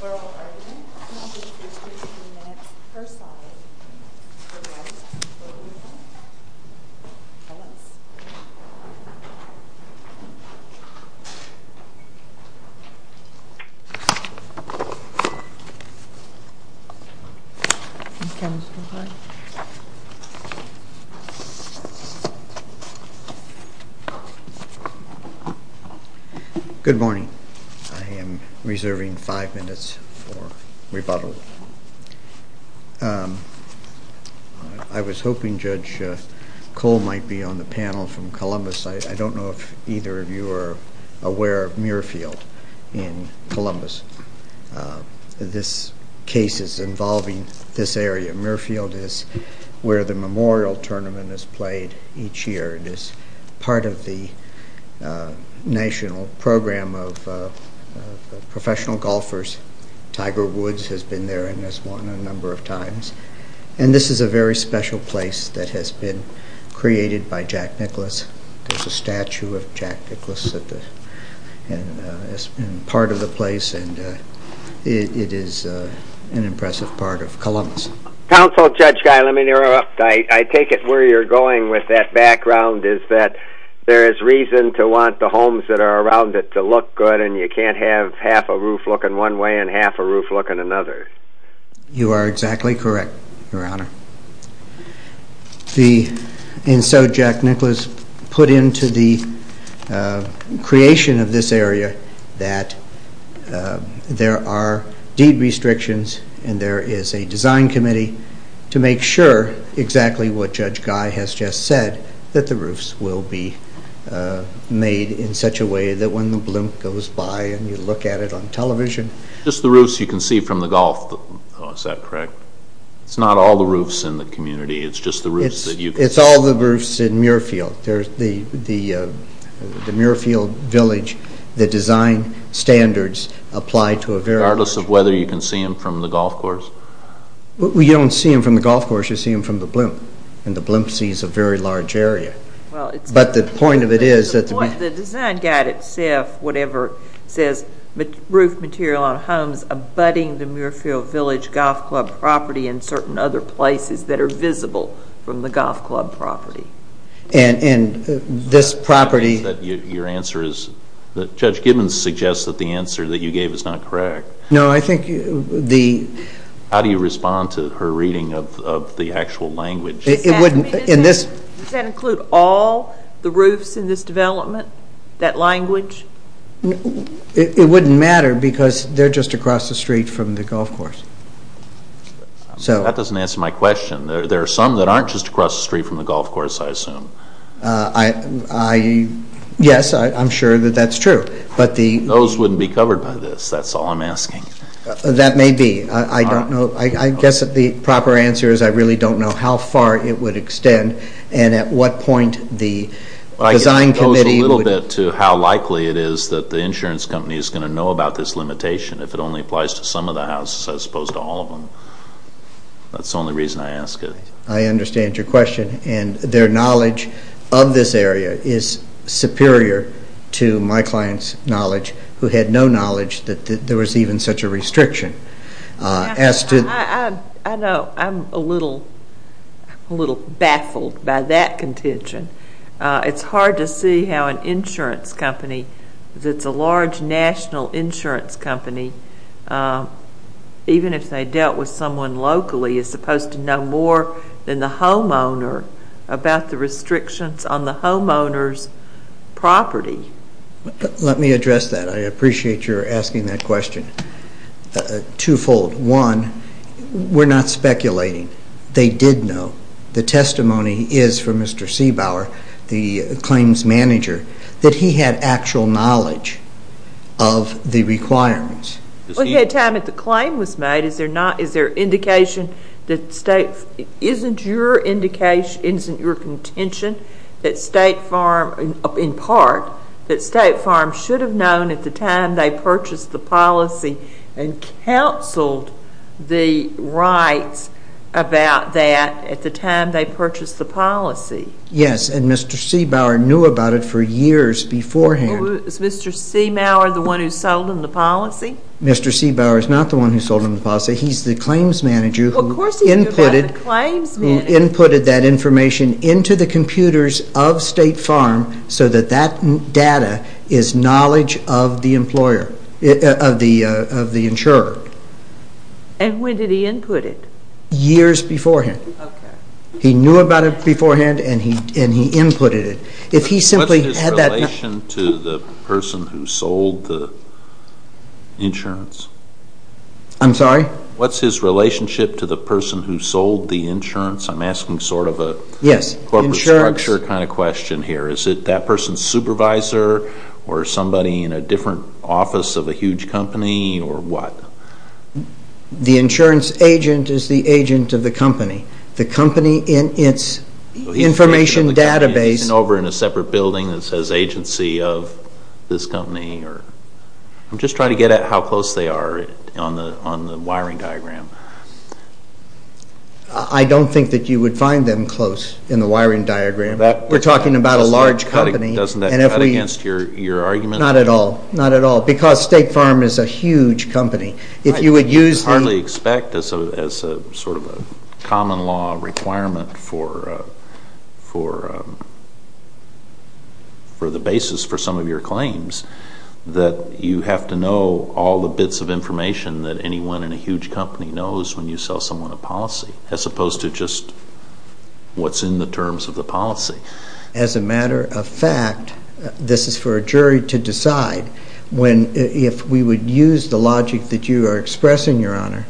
Plural argument, and I'll give you 15 minutes per side. Good morning. I am reserving five minutes for rebuttal. I was hoping Judge Cole might be on the panel from Columbus. I don't know if either of you are aware of Muirfield in this area. Muirfield is where the memorial tournament is played each year. It is part of the national program of professional golfers. Tiger Woods has been there and has won a number of times. This is a very special place that has been created by Jack Nicklaus. There is Council Judge Guy, let me interrupt. I take it where you're going with that background is that there is reason to want the homes that are around it to look good and you can't have half a roof looking one way and half a roof looking another. You are exactly correct, Your Honor. And so Jack Nicklaus put into the creation of this area that there are deed to make sure exactly what Judge Guy has just said, that the roofs will be made in such a way that when the blimp goes by and you look at it on television. Just the roofs you can see from the golf, is that correct? It's not all the roofs in the community, it's just the roofs that you can see. It's all the roofs in Muirfield. The Muirfield village, the design standards apply to a very large area. Regardless of whether you can see them from the golf course? You don't see them from the golf course, you see them from the blimp. And the blimp sees a very large area. But the point of it is. The design guide itself says roof material on homes abutting the Muirfield village golf club property and certain other places that are visible from the golf club property. And this property. Your answer is that Judge Gibbons suggests that the answer that you gave is not correct. No, I think the. How do you respond to her reading of the actual language? It wouldn't. In this. Does that include all the roofs in this development? That language? It wouldn't matter because they're just across the street from the golf course. That doesn't answer my question. There are some that aren't just across the street from the golf course, I assume. Yes, I'm sure that that's true. Those wouldn't be covered by this. That's all I'm asking. That may be. I don't know. I guess the proper answer is I really don't know how far it would extend and at what point the design committee. It goes a little bit to how likely it is that the insurance company is going to know about this limitation if it only applies to some of the houses as opposed to all of them. That's the only reason I ask it. I understand your question. And their who had no knowledge that there was even such a restriction. I know. I'm a little baffled by that contention. It's hard to see how an insurance company that's a large national insurance company, even if they dealt with someone locally, is supposed to know more than the homeowner about the restrictions on the homeowner's property. Let me address that. I appreciate you're asking that question. Twofold. One, we're not speculating. They did know. The testimony is from Mr. Seibauer, the claims manager, that he had actual knowledge of the requirements. We had time at the claim was made. Is there not? Is there indication that state isn't your indication, isn't your contention that State Farm, in part, that State Farm should have known at the time they purchased the policy and counseled the rights about that at the time they purchased the policy? Yes, and Mr. Seibauer knew about it for years beforehand. Is Mr. Seibauer the one who sold him the policy? Mr. Seibauer is not the one who sold him the policy. He's the claims manager who inputted that information into the computers of State Farm so that that data is knowledge of the employer, of the insurer. And when did he input it? Years beforehand. He knew about it beforehand and he inputted it. What's his relation to the person who sold the insurance? I'm sorry? What's his relationship to the person who sold the insurance? I'm asking sort of a corporate structure kind of question here. Is it that person's supervisor or somebody in a different office of a huge company or what? The insurance agent is the agent of the company. The company in its information database. He's over in a separate building that says agency of this company. I'm just trying to get at how close they are on the wiring diagram. I don't think that you would find them close in the wiring diagram. We're talking about a large company. Doesn't that cut against your argument? Not at all. Not at all. Because State Farm is a huge company. If you would use the... I hardly expect as a sort of a requirement for the basis for some of your claims that you have to know all the bits of information that anyone in a huge company knows when you sell someone a policy as opposed to just what's in the terms of the policy. As a matter of fact, this is for a jury to decide, if we would use the logic that you are expressing, Your Honor,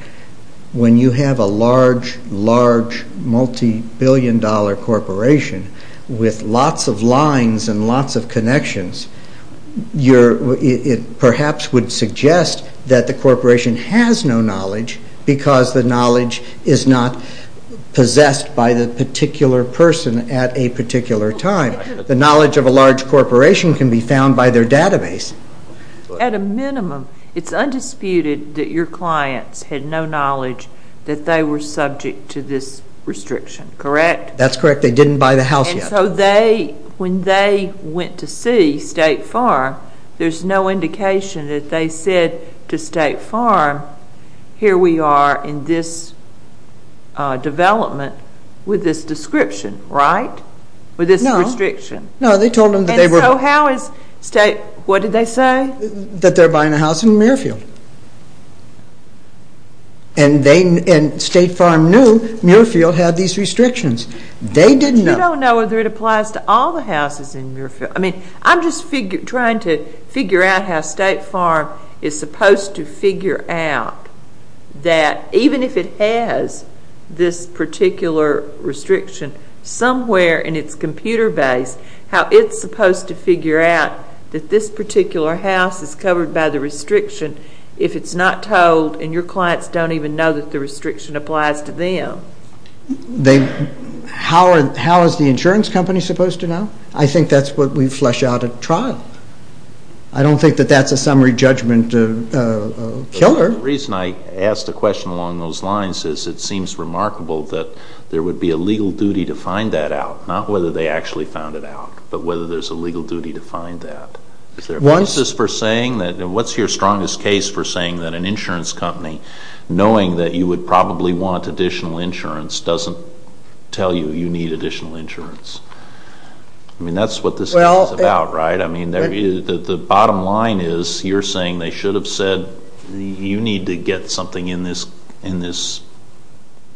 when you have a large, large, multi-billion-dollar corporation with lots of lines and lots of connections, it perhaps would suggest that the corporation has no knowledge because the knowledge is not possessed by the particular person at a particular time. The knowledge of a large corporation can be found by their database. At a minimum, it's undisputed that your clients had no knowledge that they were subject to this restriction, correct? That's correct. They didn't buy the house yet. And so they, when they went to see State Farm, there's no indication that they said to State Farm, here we are in this development with this description, right? No. With this restriction. No, they told them that they were... And so they... And State Farm knew Muirfield had these restrictions. They didn't know. You don't know whether it applies to all the houses in Muirfield. I mean, I'm just trying to figure out how State Farm is supposed to figure out that even if it has this particular restriction somewhere in its computer base, how it's supposed to figure out that this particular house is covered by the restriction if it's not told and your clients don't even know that the restriction applies to them. How is the insurance company supposed to know? I think that's what we flesh out at trial. I don't think that that's a summary judgment killer. The reason I asked the question along those lines is it seems remarkable that there would be a legal duty to find that out, not whether they actually found it out, but whether there's a legal duty to find that. What's your strongest case for saying that an insurance company, knowing that you would probably want additional insurance, doesn't tell you you need additional insurance? I mean, that's what this case is about, right? I mean, the bottom line is you're saying they should have said, you need to get something in this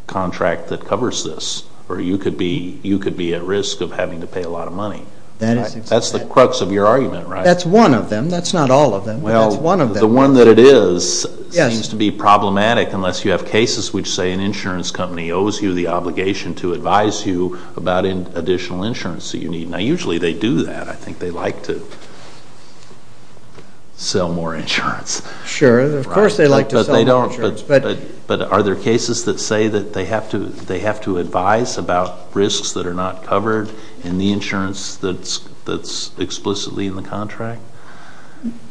contract that covers this or you could be at risk of having to pay a lot of money. That's the crux of your argument, right? That's one of them. That's not all of them. Well, the one that it is seems to be problematic unless you have cases which say an insurance company owes you the obligation to advise you about additional insurance that you need. Now, usually they do that. I think they like to sell more insurance. Sure, of course they like to sell more insurance. But are there cases that say that they have to advise about risks that are not covered in the insurance that's explicitly in the contract?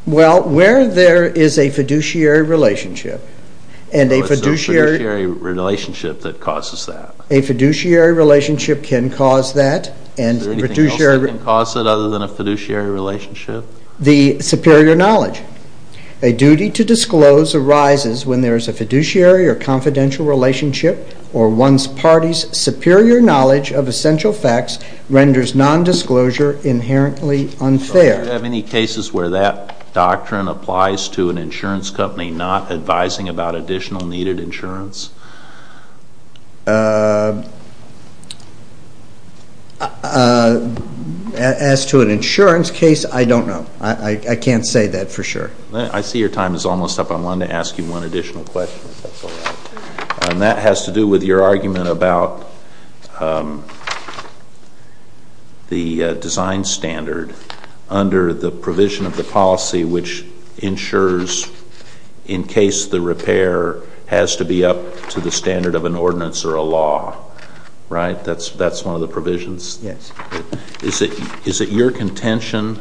Well, where there is a fiduciary relationship and a fiduciary relationship that causes that. A fiduciary relationship can cause that. Is there anything else that can cause it other than a fiduciary relationship? The superior knowledge. A duty to disclose arises when there is a fiduciary or confidential relationship or one's party's superior knowledge of essential facts renders nondisclosure inherently unfair. Do you have any cases where that doctrine applies to an insurance company not advising about additional needed insurance? As to an insurance case, I don't know. I can't say that for sure. I see your time is almost up. I wanted to ask you one additional question. And that has to do with your argument about the design standard under the provision of the policy which ensures in case the repair has to be up to the standard of an ordinance or a law, right? That's one of the provisions. Yes. Is it your contention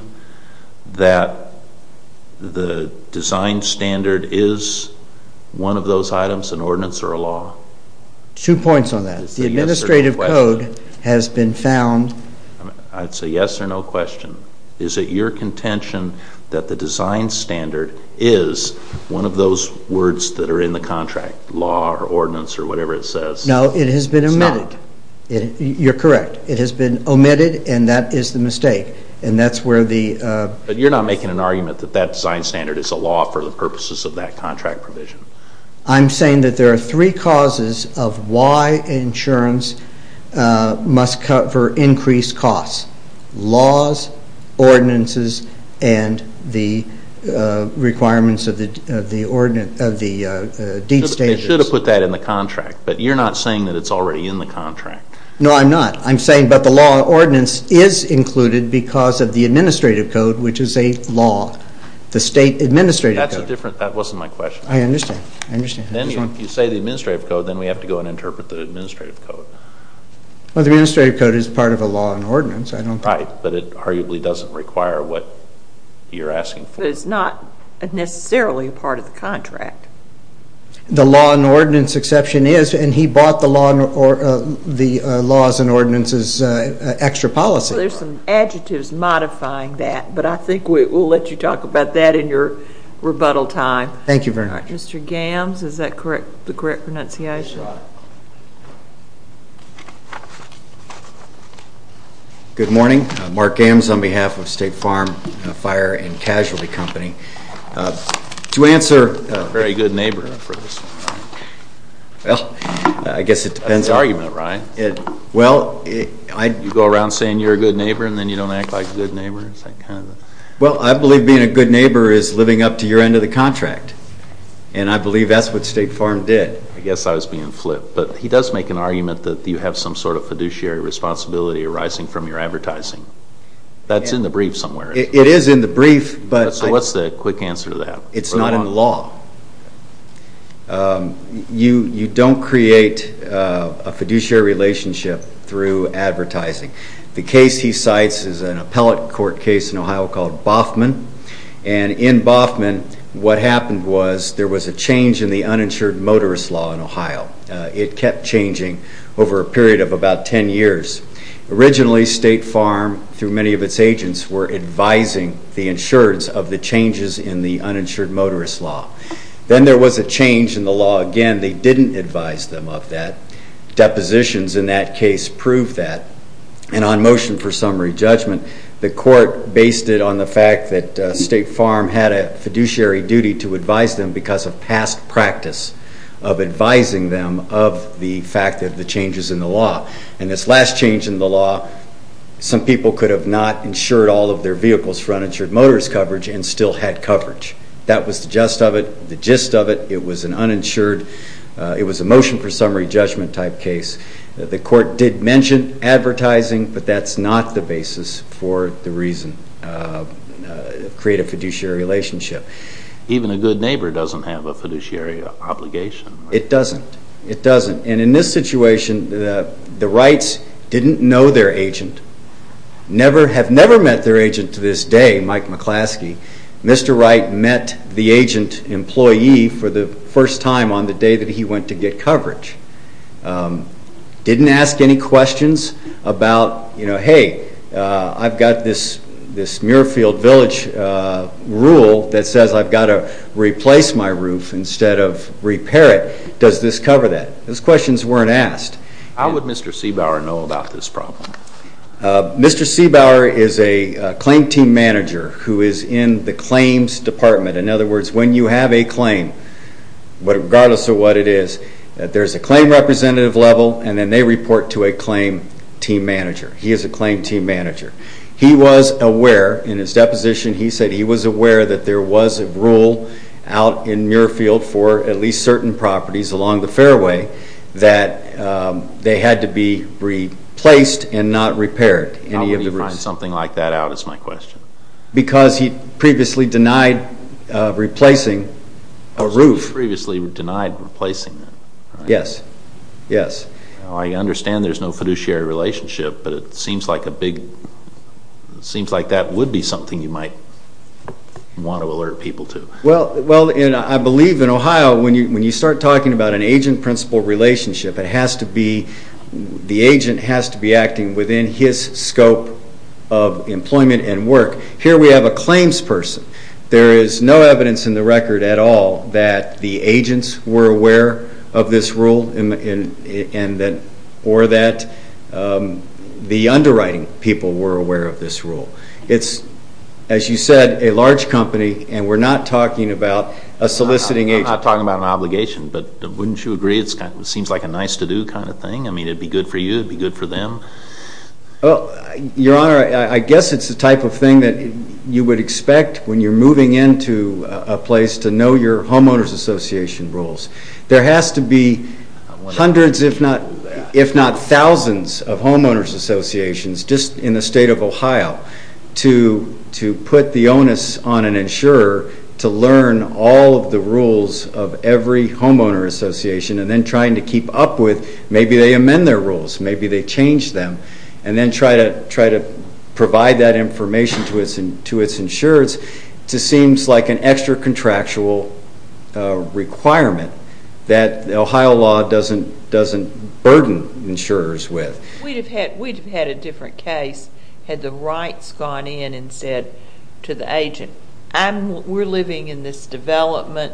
that the design standard is one of those items, an ordinance or a law? Two points on that. The administrative code has been found. I'd say yes or no question. Is it your contention that the design standard is one of those words that are in the contract, law or ordinance or whatever it says? No, it has been omitted. You're correct. It has been omitted and that is the mistake. But you're not making an argument that that design standard is a law for the purposes of that must cover increased costs. Laws, ordinances and the requirements of the deed stages. They should have put that in the contract. But you're not saying that it's already in the contract. No, I'm not. I'm saying that the law or ordinance is included because of the administrative code which is a law. The state administrative code. That wasn't my question. I understand. If you say the administrative code, then we have to go and interpret the administrative code. Well, the administrative code is part of a law and ordinance. Right, but it arguably doesn't require what you're asking for. But it's not necessarily part of the contract. The law and ordinance exception is and he bought the laws and ordinances extra policy. There's some adjectives modifying that, but I think we'll let you talk about that in your rebuttal time. Thank you very much. Mr. Gams, is that the correct pronunciation? Good morning. Mark Gams on behalf of State Farm Fire and Casualty Company. To answer... A very good neighbor for this one. Well, I guess it depends on... That's the argument, right? Well, you go around saying you're a good neighbor and then you don't act like a good neighbor. Well, I believe being a good neighbor is living up to your end of the contract. And I believe that's what State Farm did. I guess I was being flipped. But he does make an argument that the law and ordinance should cover increased costs. But you're not saying that it's already in the contract. No, I'm not. I'm saying that the law or ordinance is included because of the administrative code. There's some adjectives modifying that, but I think we'll let you talk about that in your rebuttal time. Thank you very much. Mark Gams on behalf of State Farm Fire and Casualty Company. To answer... A very good neighbor for this one. Well, I guess it depends on... That's you have some sort of fiduciary responsibility arising from your advertising. That's in the brief somewhere. It is in the brief, but... So what's the quick answer to that? It's not in the law. You don't create a fiduciary relationship through advertising. The case he cites is an appellate court case in Ohio called Boffman. And in Boffman, what happened was there was a change in the uninsured motorist law in Ohio. It kept changing over a period of about 10 years. Originally, State Farm, through many of its agents, were advising the insureds of the changes in the uninsured motorist law. Then there was a change in the law again. They didn't advise them of that. of the changes in the law. And this last change in the law, some people could have not insured all of their vehicles for uninsured motorist coverage and still had coverage. That was the gist of it. It was an uninsured... It was a motion for summary judgment type case. The court did mention advertising, but that's not the basis for the reason to create a fiduciary relationship. Even a good neighbor doesn't have a fiduciary obligation. It doesn't. It doesn't. And in this situation, the Wrights didn't know their agent, have never met their agent to this day, Mike McClaskey. Mr. Wright met the agent employee for the first time on the day that he went to get coverage. Didn't ask any questions about, you know, hey, I've got this Muirfield Village rule that says I've got to replace my roof instead of repair it. Does this cover that? Those questions weren't asked. How would Mr. C. Bauer know about this problem? Mr. C. Bauer is a claim team manager who is in the claims department. In other words, when you have a claim, regardless of what it is, there's a claim representative level and then they report to a claim team manager. He is a claim team manager. He was aware, in his deposition, he said he was aware that there was a rule out in Muirfield for at least certain properties along the fairway that they had to be replaced and not repaired. How would he find something like that out is my question. Because he previously denied replacing a roof. Because he previously denied replacing it. Yes. Yes. I understand there's no fiduciary relationship, but it seems like a big, it seems like that would be something you might want to alert people to. Well, I believe in Ohio, when you start talking about an agent-principal relationship, it has to be, the agent has to be acting within his scope of employment and work. Here we have a claims person. There is no evidence in the record at all that the agents were aware of this rule or that the underwriting people were aware of this rule. It's, as you said, a large company and we're not talking about a soliciting agent. We're not talking about an obligation, but wouldn't you agree it seems like a nice-to-do kind of thing? I mean, it would be good for you, it would be good for them. Well, Your Honor, I guess it's the type of thing that you would expect when you're moving into a place to know your homeowners association rules. There has to be hundreds, if not thousands, of homeowners associations just in the state of Ohio to put the onus on an insurer to learn all of the rules of every homeowner association and then trying to keep up with, maybe they amend their rules, maybe they change them. And then try to provide that information to its insurers. It just seems like an extra contractual requirement that the Ohio law doesn't burden insurers with. We'd have had a different case had the rights gone in instead to the agent. We're living in this development.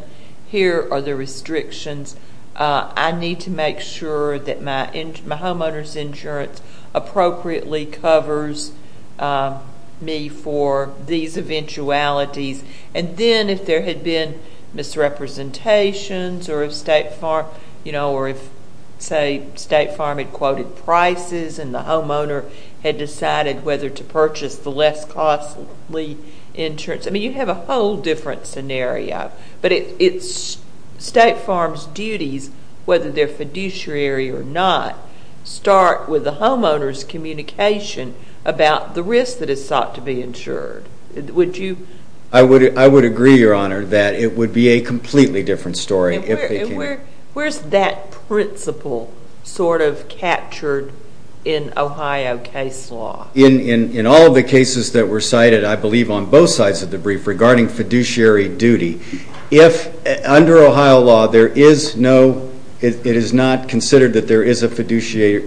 Here are the restrictions. I need to make sure that my homeowner's insurance appropriately covers me for these eventualities. And then if there had been misrepresentations or if, say, State Farm had quoted prices and the homeowner had decided whether to purchase the less costly insurance. I mean, you have a whole different scenario. But State Farm's duties, whether they're fiduciary or not, start with the homeowner's communication about the risk that is sought to be insured. I would agree, Your Honor, that it would be a completely different story. Where's that principle sort of captured in Ohio case law? In all of the cases that were cited, I believe on both sides of the brief, regarding fiduciary duty, under Ohio law, it is not considered that there is a fiduciary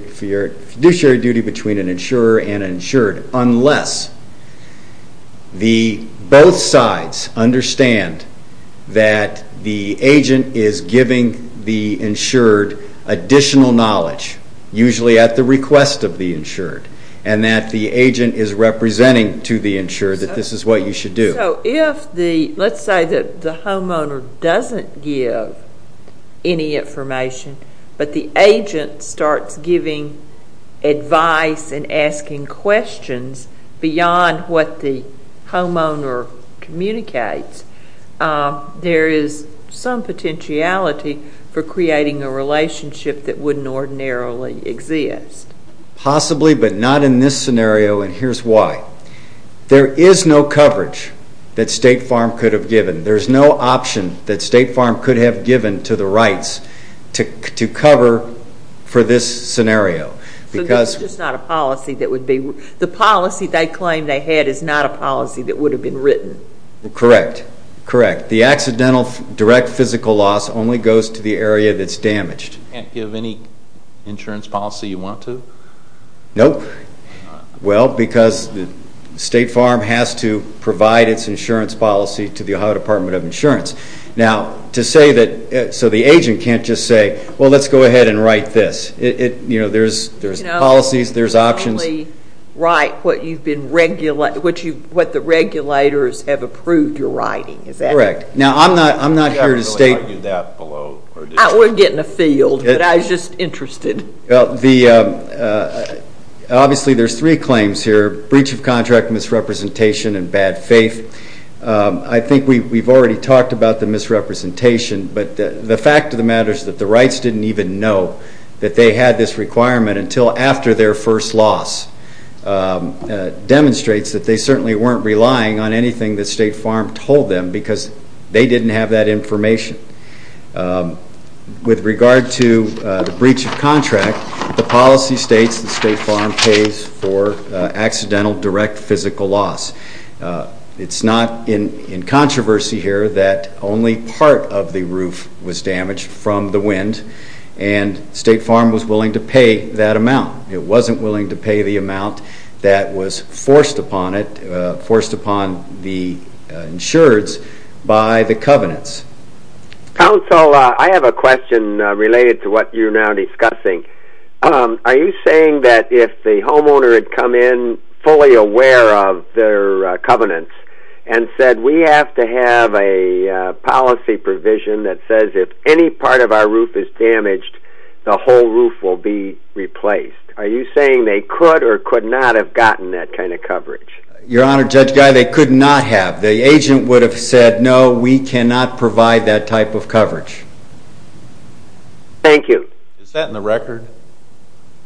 duty between an insurer and an insured unless both sides understand that the agent is giving the insured additional knowledge, usually at the request of the insured. And that the agent is representing to the insured that this is what you should do. So if the, let's say that the homeowner doesn't give any information, but the agent starts giving advice and asking questions beyond what the homeowner communicates, there is some potentiality for creating a relationship that wouldn't ordinarily exist. Possibly, but not in this scenario, and here's why. There is no coverage that State Farm could have given. There's no option that State Farm could have given to the rights to cover for this scenario. So that's just not a policy that would be, the policy they claim they had is not a policy that would have been written. Correct. Correct. The accidental direct physical loss only goes to the area that's damaged. You can't give any insurance policy you want to? Nope. Well, because State Farm has to provide its insurance policy to the Ohio Department of Insurance. Now, to say that, so the agent can't just say, well, let's go ahead and write this. You know, there's policies, there's options. You can only write what you've been, what the regulators have approved your writing. Is that correct? Correct. Now, I'm not here to state. We're getting a field, but I was just interested. Obviously, there's three claims here, breach of contract, misrepresentation, and bad faith. I think we've already talked about the misrepresentation, but the fact of the matter is that the rights didn't even know that they had this requirement until after their first loss demonstrates that they certainly weren't relying on anything that State Farm told them because they didn't have that information. With regard to the breach of contract, the policy states that State Farm pays for accidental direct physical loss. It's not in controversy here that only part of the roof was damaged from the wind, and State Farm was willing to pay that amount. It wasn't willing to pay the amount that was forced upon it, forced upon the insureds by the covenants. Council, I have a question related to what you're now discussing. Are you saying that if the homeowner had come in fully aware of their covenants and said we have to have a policy provision that says if any part of our roof is damaged, the whole roof will be replaced? Are you saying they could or could not have gotten that kind of coverage? Your Honor, Judge Guy, they could not have. The agent would have said no, we cannot provide that type of coverage. Thank you. Is that in the record?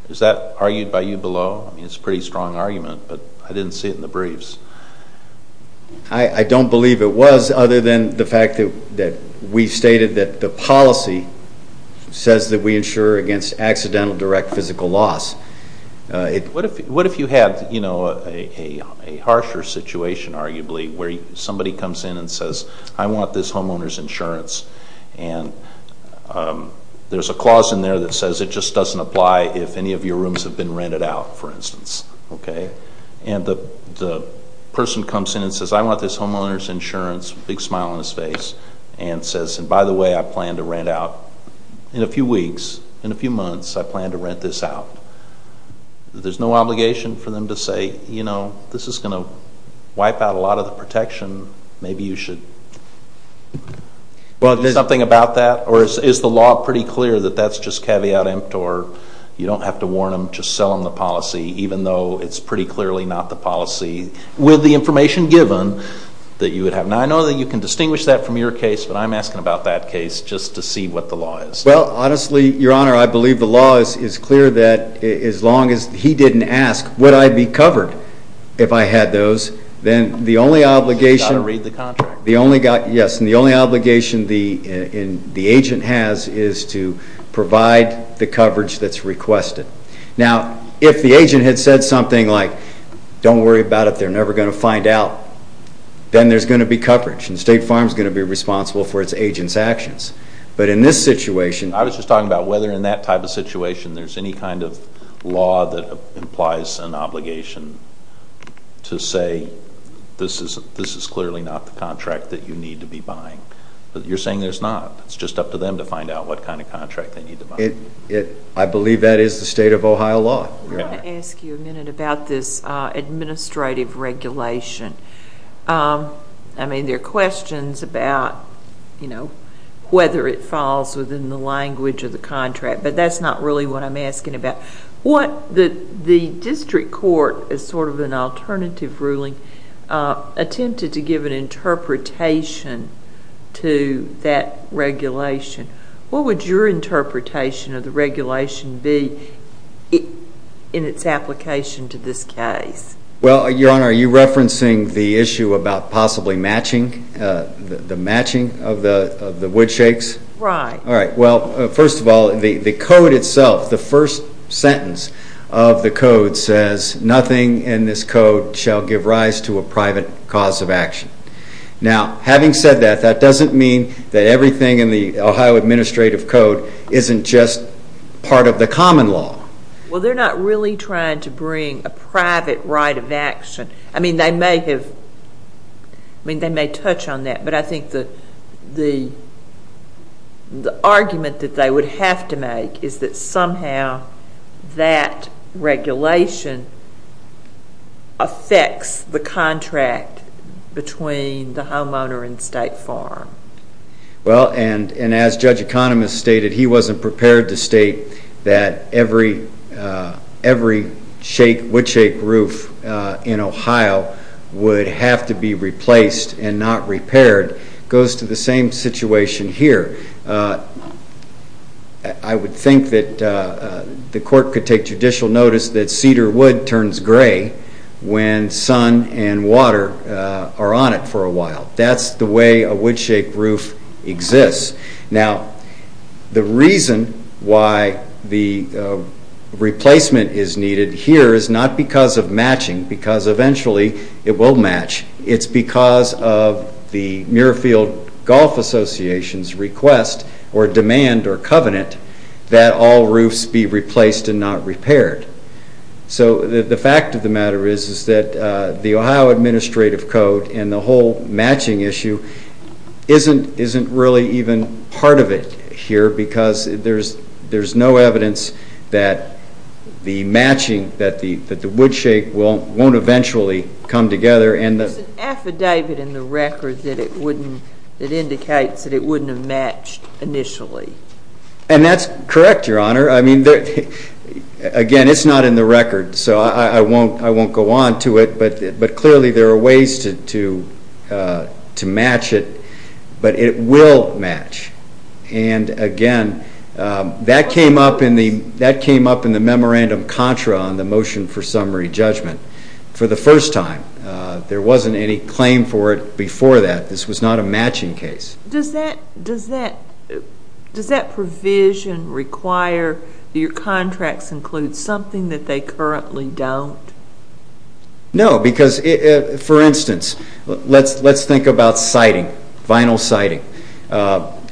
Is that argued by you below? I mean, it's a pretty strong argument, but I didn't see it in the briefs. I don't believe it was other than the fact that we stated that the policy says that we insure against accidental direct physical loss. What if you had a harsher situation, arguably, where somebody comes in and says I want this homeowner's insurance, and there's a clause in there that says it just doesn't apply if any of your rooms have been rented out, for instance. Okay. And the person comes in and says I want this homeowner's insurance, big smile on his face, and says, and by the way, I plan to rent out in a few weeks, in a few months, I plan to rent this out. There's no obligation for them to say, you know, this is going to wipe out a lot of the protection. Maybe you should do something about that? Or is the law pretty clear that that's just caveat emptor? You don't have to warn them, just sell them the policy, even though it's pretty clearly not the policy, with the information given, that you would have. Now, I know that you can distinguish that from your case, but I'm asking about that case just to see what the law is. Well, honestly, Your Honor, I believe the law is clear that as long as he didn't ask would I be covered if I had those, then the only obligation the agent has is to provide the coverage that's requested. Now, if the agent had said something like don't worry about it, they're never going to find out, then there's going to be coverage, and State Farm is going to be responsible for its agent's actions. But in this situation. I was just talking about whether in that type of situation there's any kind of law that implies an obligation to say, this is clearly not the contract that you need to be buying. You're saying there's not. It's just up to them to find out what kind of contract they need to buy. I believe that is the state of Ohio law. I want to ask you a minute about this administrative regulation. I mean, there are questions about whether it falls within the language of the contract, but that's not really what I'm asking about. The district court, as sort of an alternative ruling, attempted to give an interpretation to that regulation. What would your interpretation of the regulation be in its application to this case? Well, Your Honor, are you referencing the issue about possibly matching, the matching of the wood shakes? Right. All right. Well, first of all, the code itself, the first sentence of the code says, nothing in this code shall give rise to a private cause of action. Now, having said that, that doesn't mean that everything in the Ohio administrative code isn't just part of the common law. Well, they're not really trying to bring a private right of action. I mean, they may have, I mean, they may touch on that, but I think the argument that they would have to make is that somehow that regulation affects the contract between the homeowner and state farm. Well, and as Judge Economist stated, he wasn't prepared to state that every wood shake roof in Ohio would have to be replaced and not repaired. It goes to the same situation here. I would think that the court could take judicial notice that cedar wood turns gray when sun and water are on it for a while. That's the way a wood shake roof exists. Now, the reason why the replacement is needed here is not because of matching, because eventually it will match. It's because of the Muirfield Golf Association's request or demand or covenant that all roofs be replaced and not repaired. So the fact of the matter is that the Ohio administrative code and the whole matching issue isn't really even part of it here because there's no evidence that the matching, that the wood shake won't eventually come together. There's an affidavit in the record that indicates that it wouldn't have matched initially. Again, it's not in the record, so I won't go on to it, but clearly there are ways to match it, but it will match. And again, that came up in the memorandum contra on the motion for summary judgment for the first time. There wasn't any claim for it before that. This was not a matching case. Does that provision require your contracts include something that they currently don't? No, because, for instance, let's think about siding, vinyl siding.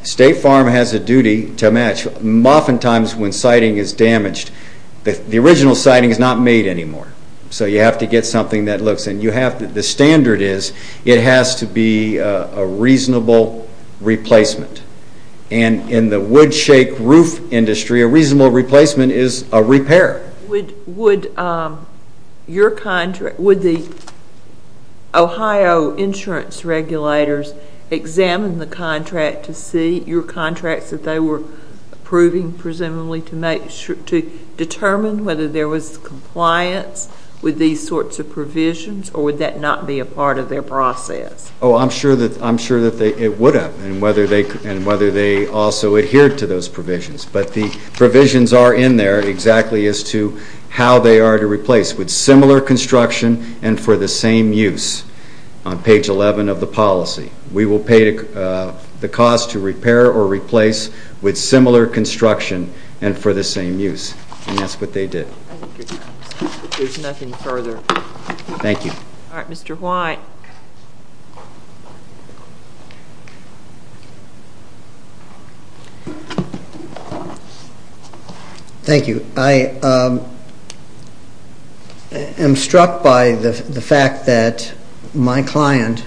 State Farm has a duty to match. Oftentimes when siding is damaged, the original siding is not made anymore, so you have to get something that looks. The standard is it has to be a reasonable replacement. And in the wood shake roof industry, a reasonable replacement is a repair. Would the Ohio insurance regulators examine the contract to see your contracts that they were approving, presumably to determine whether there was compliance with these sorts of provisions, or would that not be a part of their process? Oh, I'm sure that it would have and whether they also adhered to those provisions. But the provisions are in there exactly as to how they are to replace with similar construction and for the same use on page 11 of the policy. We will pay the cost to repair or replace with similar construction and for the same use. And that's what they did. There's nothing further. Thank you. All right, Mr. White. Thank you. I am struck by the fact that my client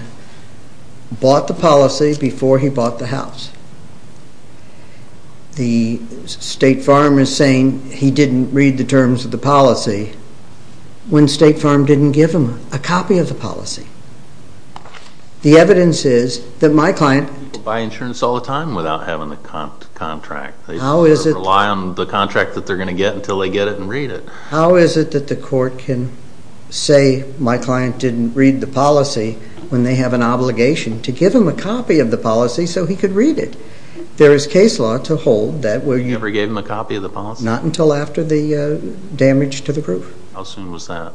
bought the policy before he bought the house. The State Farm is saying he didn't read the terms of the policy when State Farm didn't give him a copy of the policy. The evidence is that my client... People buy insurance all the time without having the contract. How is it... They rely on the contract that they're going to get until they get it and read it. How is it that the court can say my client didn't read the policy when they have an obligation to give him a copy of the policy so he could read it? There is case law to hold that... You never gave him a copy of the policy? Not until after the damage to the proof. How soon was that?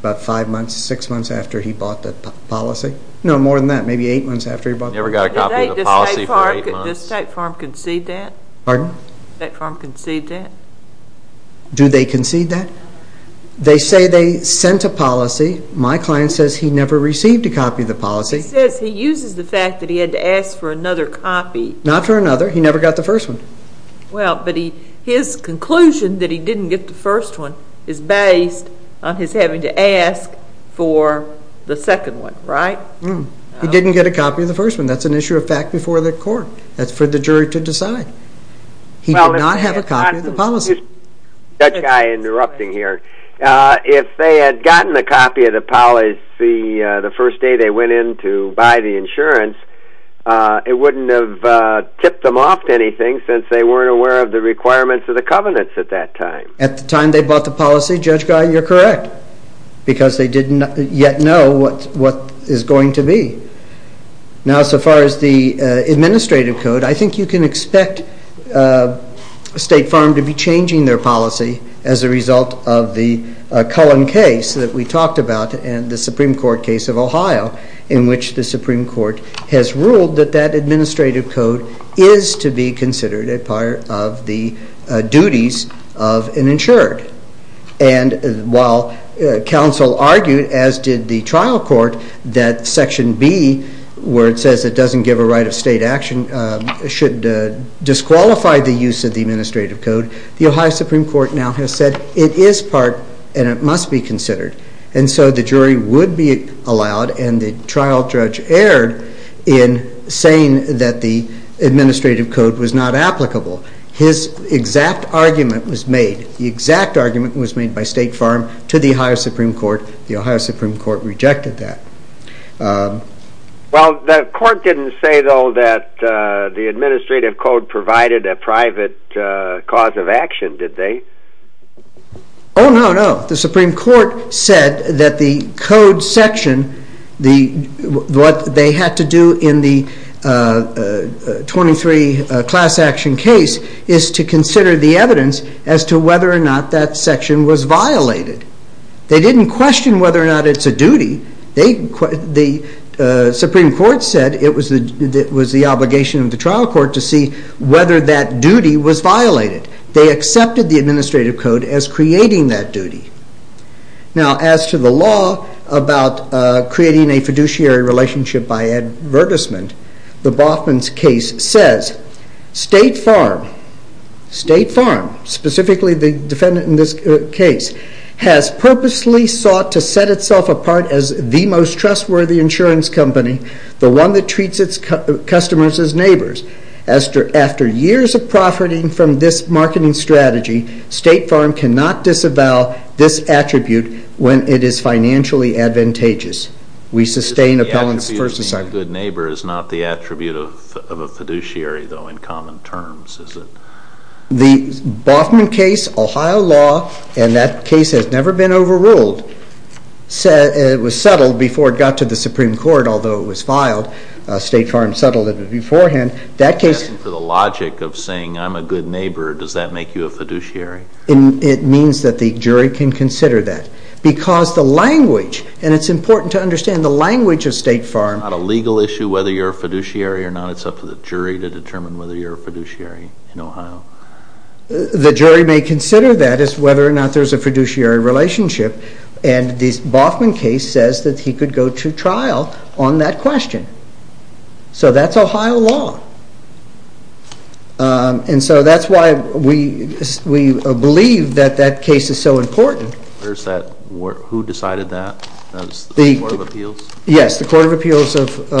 About five months, six months after he bought the policy. No, more than that, maybe eight months after he bought the policy. You never got a copy of the policy for eight months? Did State Farm concede that? Pardon? Did State Farm concede that? Do they concede that? They say they sent a policy. My client says he never received a copy of the policy. He says he uses the fact that he had to ask for another copy. Not for another. He never got the first one. Well, but his conclusion that he didn't get the first one is based on his having to ask for the second one, right? He didn't get a copy of the first one. That's an issue of fact before the court. That's for the jury to decide. He did not have a copy of the policy. Judge Guy, interrupting here. If they had gotten a copy of the policy the first day they went in to buy the insurance, it wouldn't have tipped them off to anything since they weren't aware of the requirements of the covenants at that time. At the time they bought the policy, Judge Guy, you're correct, because they didn't yet know what is going to be. Now, so far as the administrative code, I think you can expect State Farm to be changing their policy as a result of the Cullen case that we talked about and the Supreme Court case of Ohio in which the Supreme Court has ruled that that administrative code is to be considered a part of the duties of an insured. And while counsel argued, as did the trial court, that Section B where it says it doesn't give a right of state action should disqualify the use of the administrative code, the Ohio Supreme Court now has said it is part and it must be considered. And so the jury would be allowed and the trial judge erred in saying that the administrative code was not applicable. His exact argument was made. The exact argument was made by State Farm to the Ohio Supreme Court. The Ohio Supreme Court rejected that. Well, the court didn't say, though, that the administrative code provided a private cause of action, did they? Oh, no, no. The Supreme Court said that the code section, what they had to do in the 23 class action case, is to consider the evidence as to whether or not that section was violated. They didn't question whether or not it's a duty. The Supreme Court said it was the obligation of the trial court to see whether that duty was violated. They accepted the administrative code as creating that duty. Now, as to the law about creating a fiduciary relationship by advertisement, the Boffman's case says State Farm, specifically the defendant in this case, has purposely sought to set itself apart as the most trustworthy insurance company, the one that treats its customers as neighbors. After years of profiting from this marketing strategy, State Farm cannot disavow this attribute when it is financially advantageous. We sustain appellants first and second. The attribute of being a good neighbor is not the attribute of a fiduciary, though, in common terms, is it? The Boffman case, Ohio law, and that case has never been overruled. It was settled before it got to the Supreme Court, although it was filed. State Farm settled it beforehand. That case- As for the logic of saying I'm a good neighbor, does that make you a fiduciary? It means that the jury can consider that because the language, and it's important to understand the language of State Farm- It's not a legal issue whether you're a fiduciary or not. It's up to the jury to determine whether you're a fiduciary in Ohio. The jury may consider that as whether or not there's a fiduciary relationship, and this Boffman case says that he could go to trial on that question. So that's Ohio law. And so that's why we believe that that case is so important. Who decided that? The Court of Appeals? Yes, the Court of Appeals of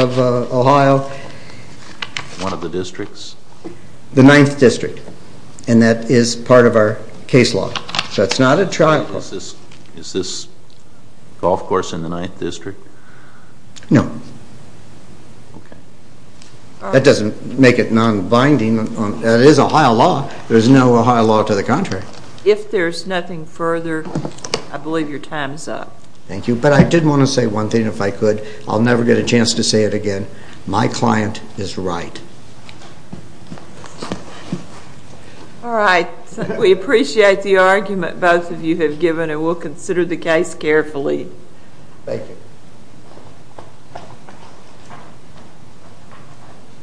Ohio. One of the districts? The 9th District, and that is part of our case law. That's not a trial. Is this golf course in the 9th District? No. That doesn't make it non-binding. It is Ohio law. There's no Ohio law to the contrary. If there's nothing further, I believe your time is up. Thank you. But I did want to say one thing, if I could. I'll never get a chance to say it again. My client is right. All right. We appreciate the argument both of you have given, and we'll consider the case carefully. Thank you.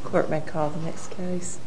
Court may call the next case.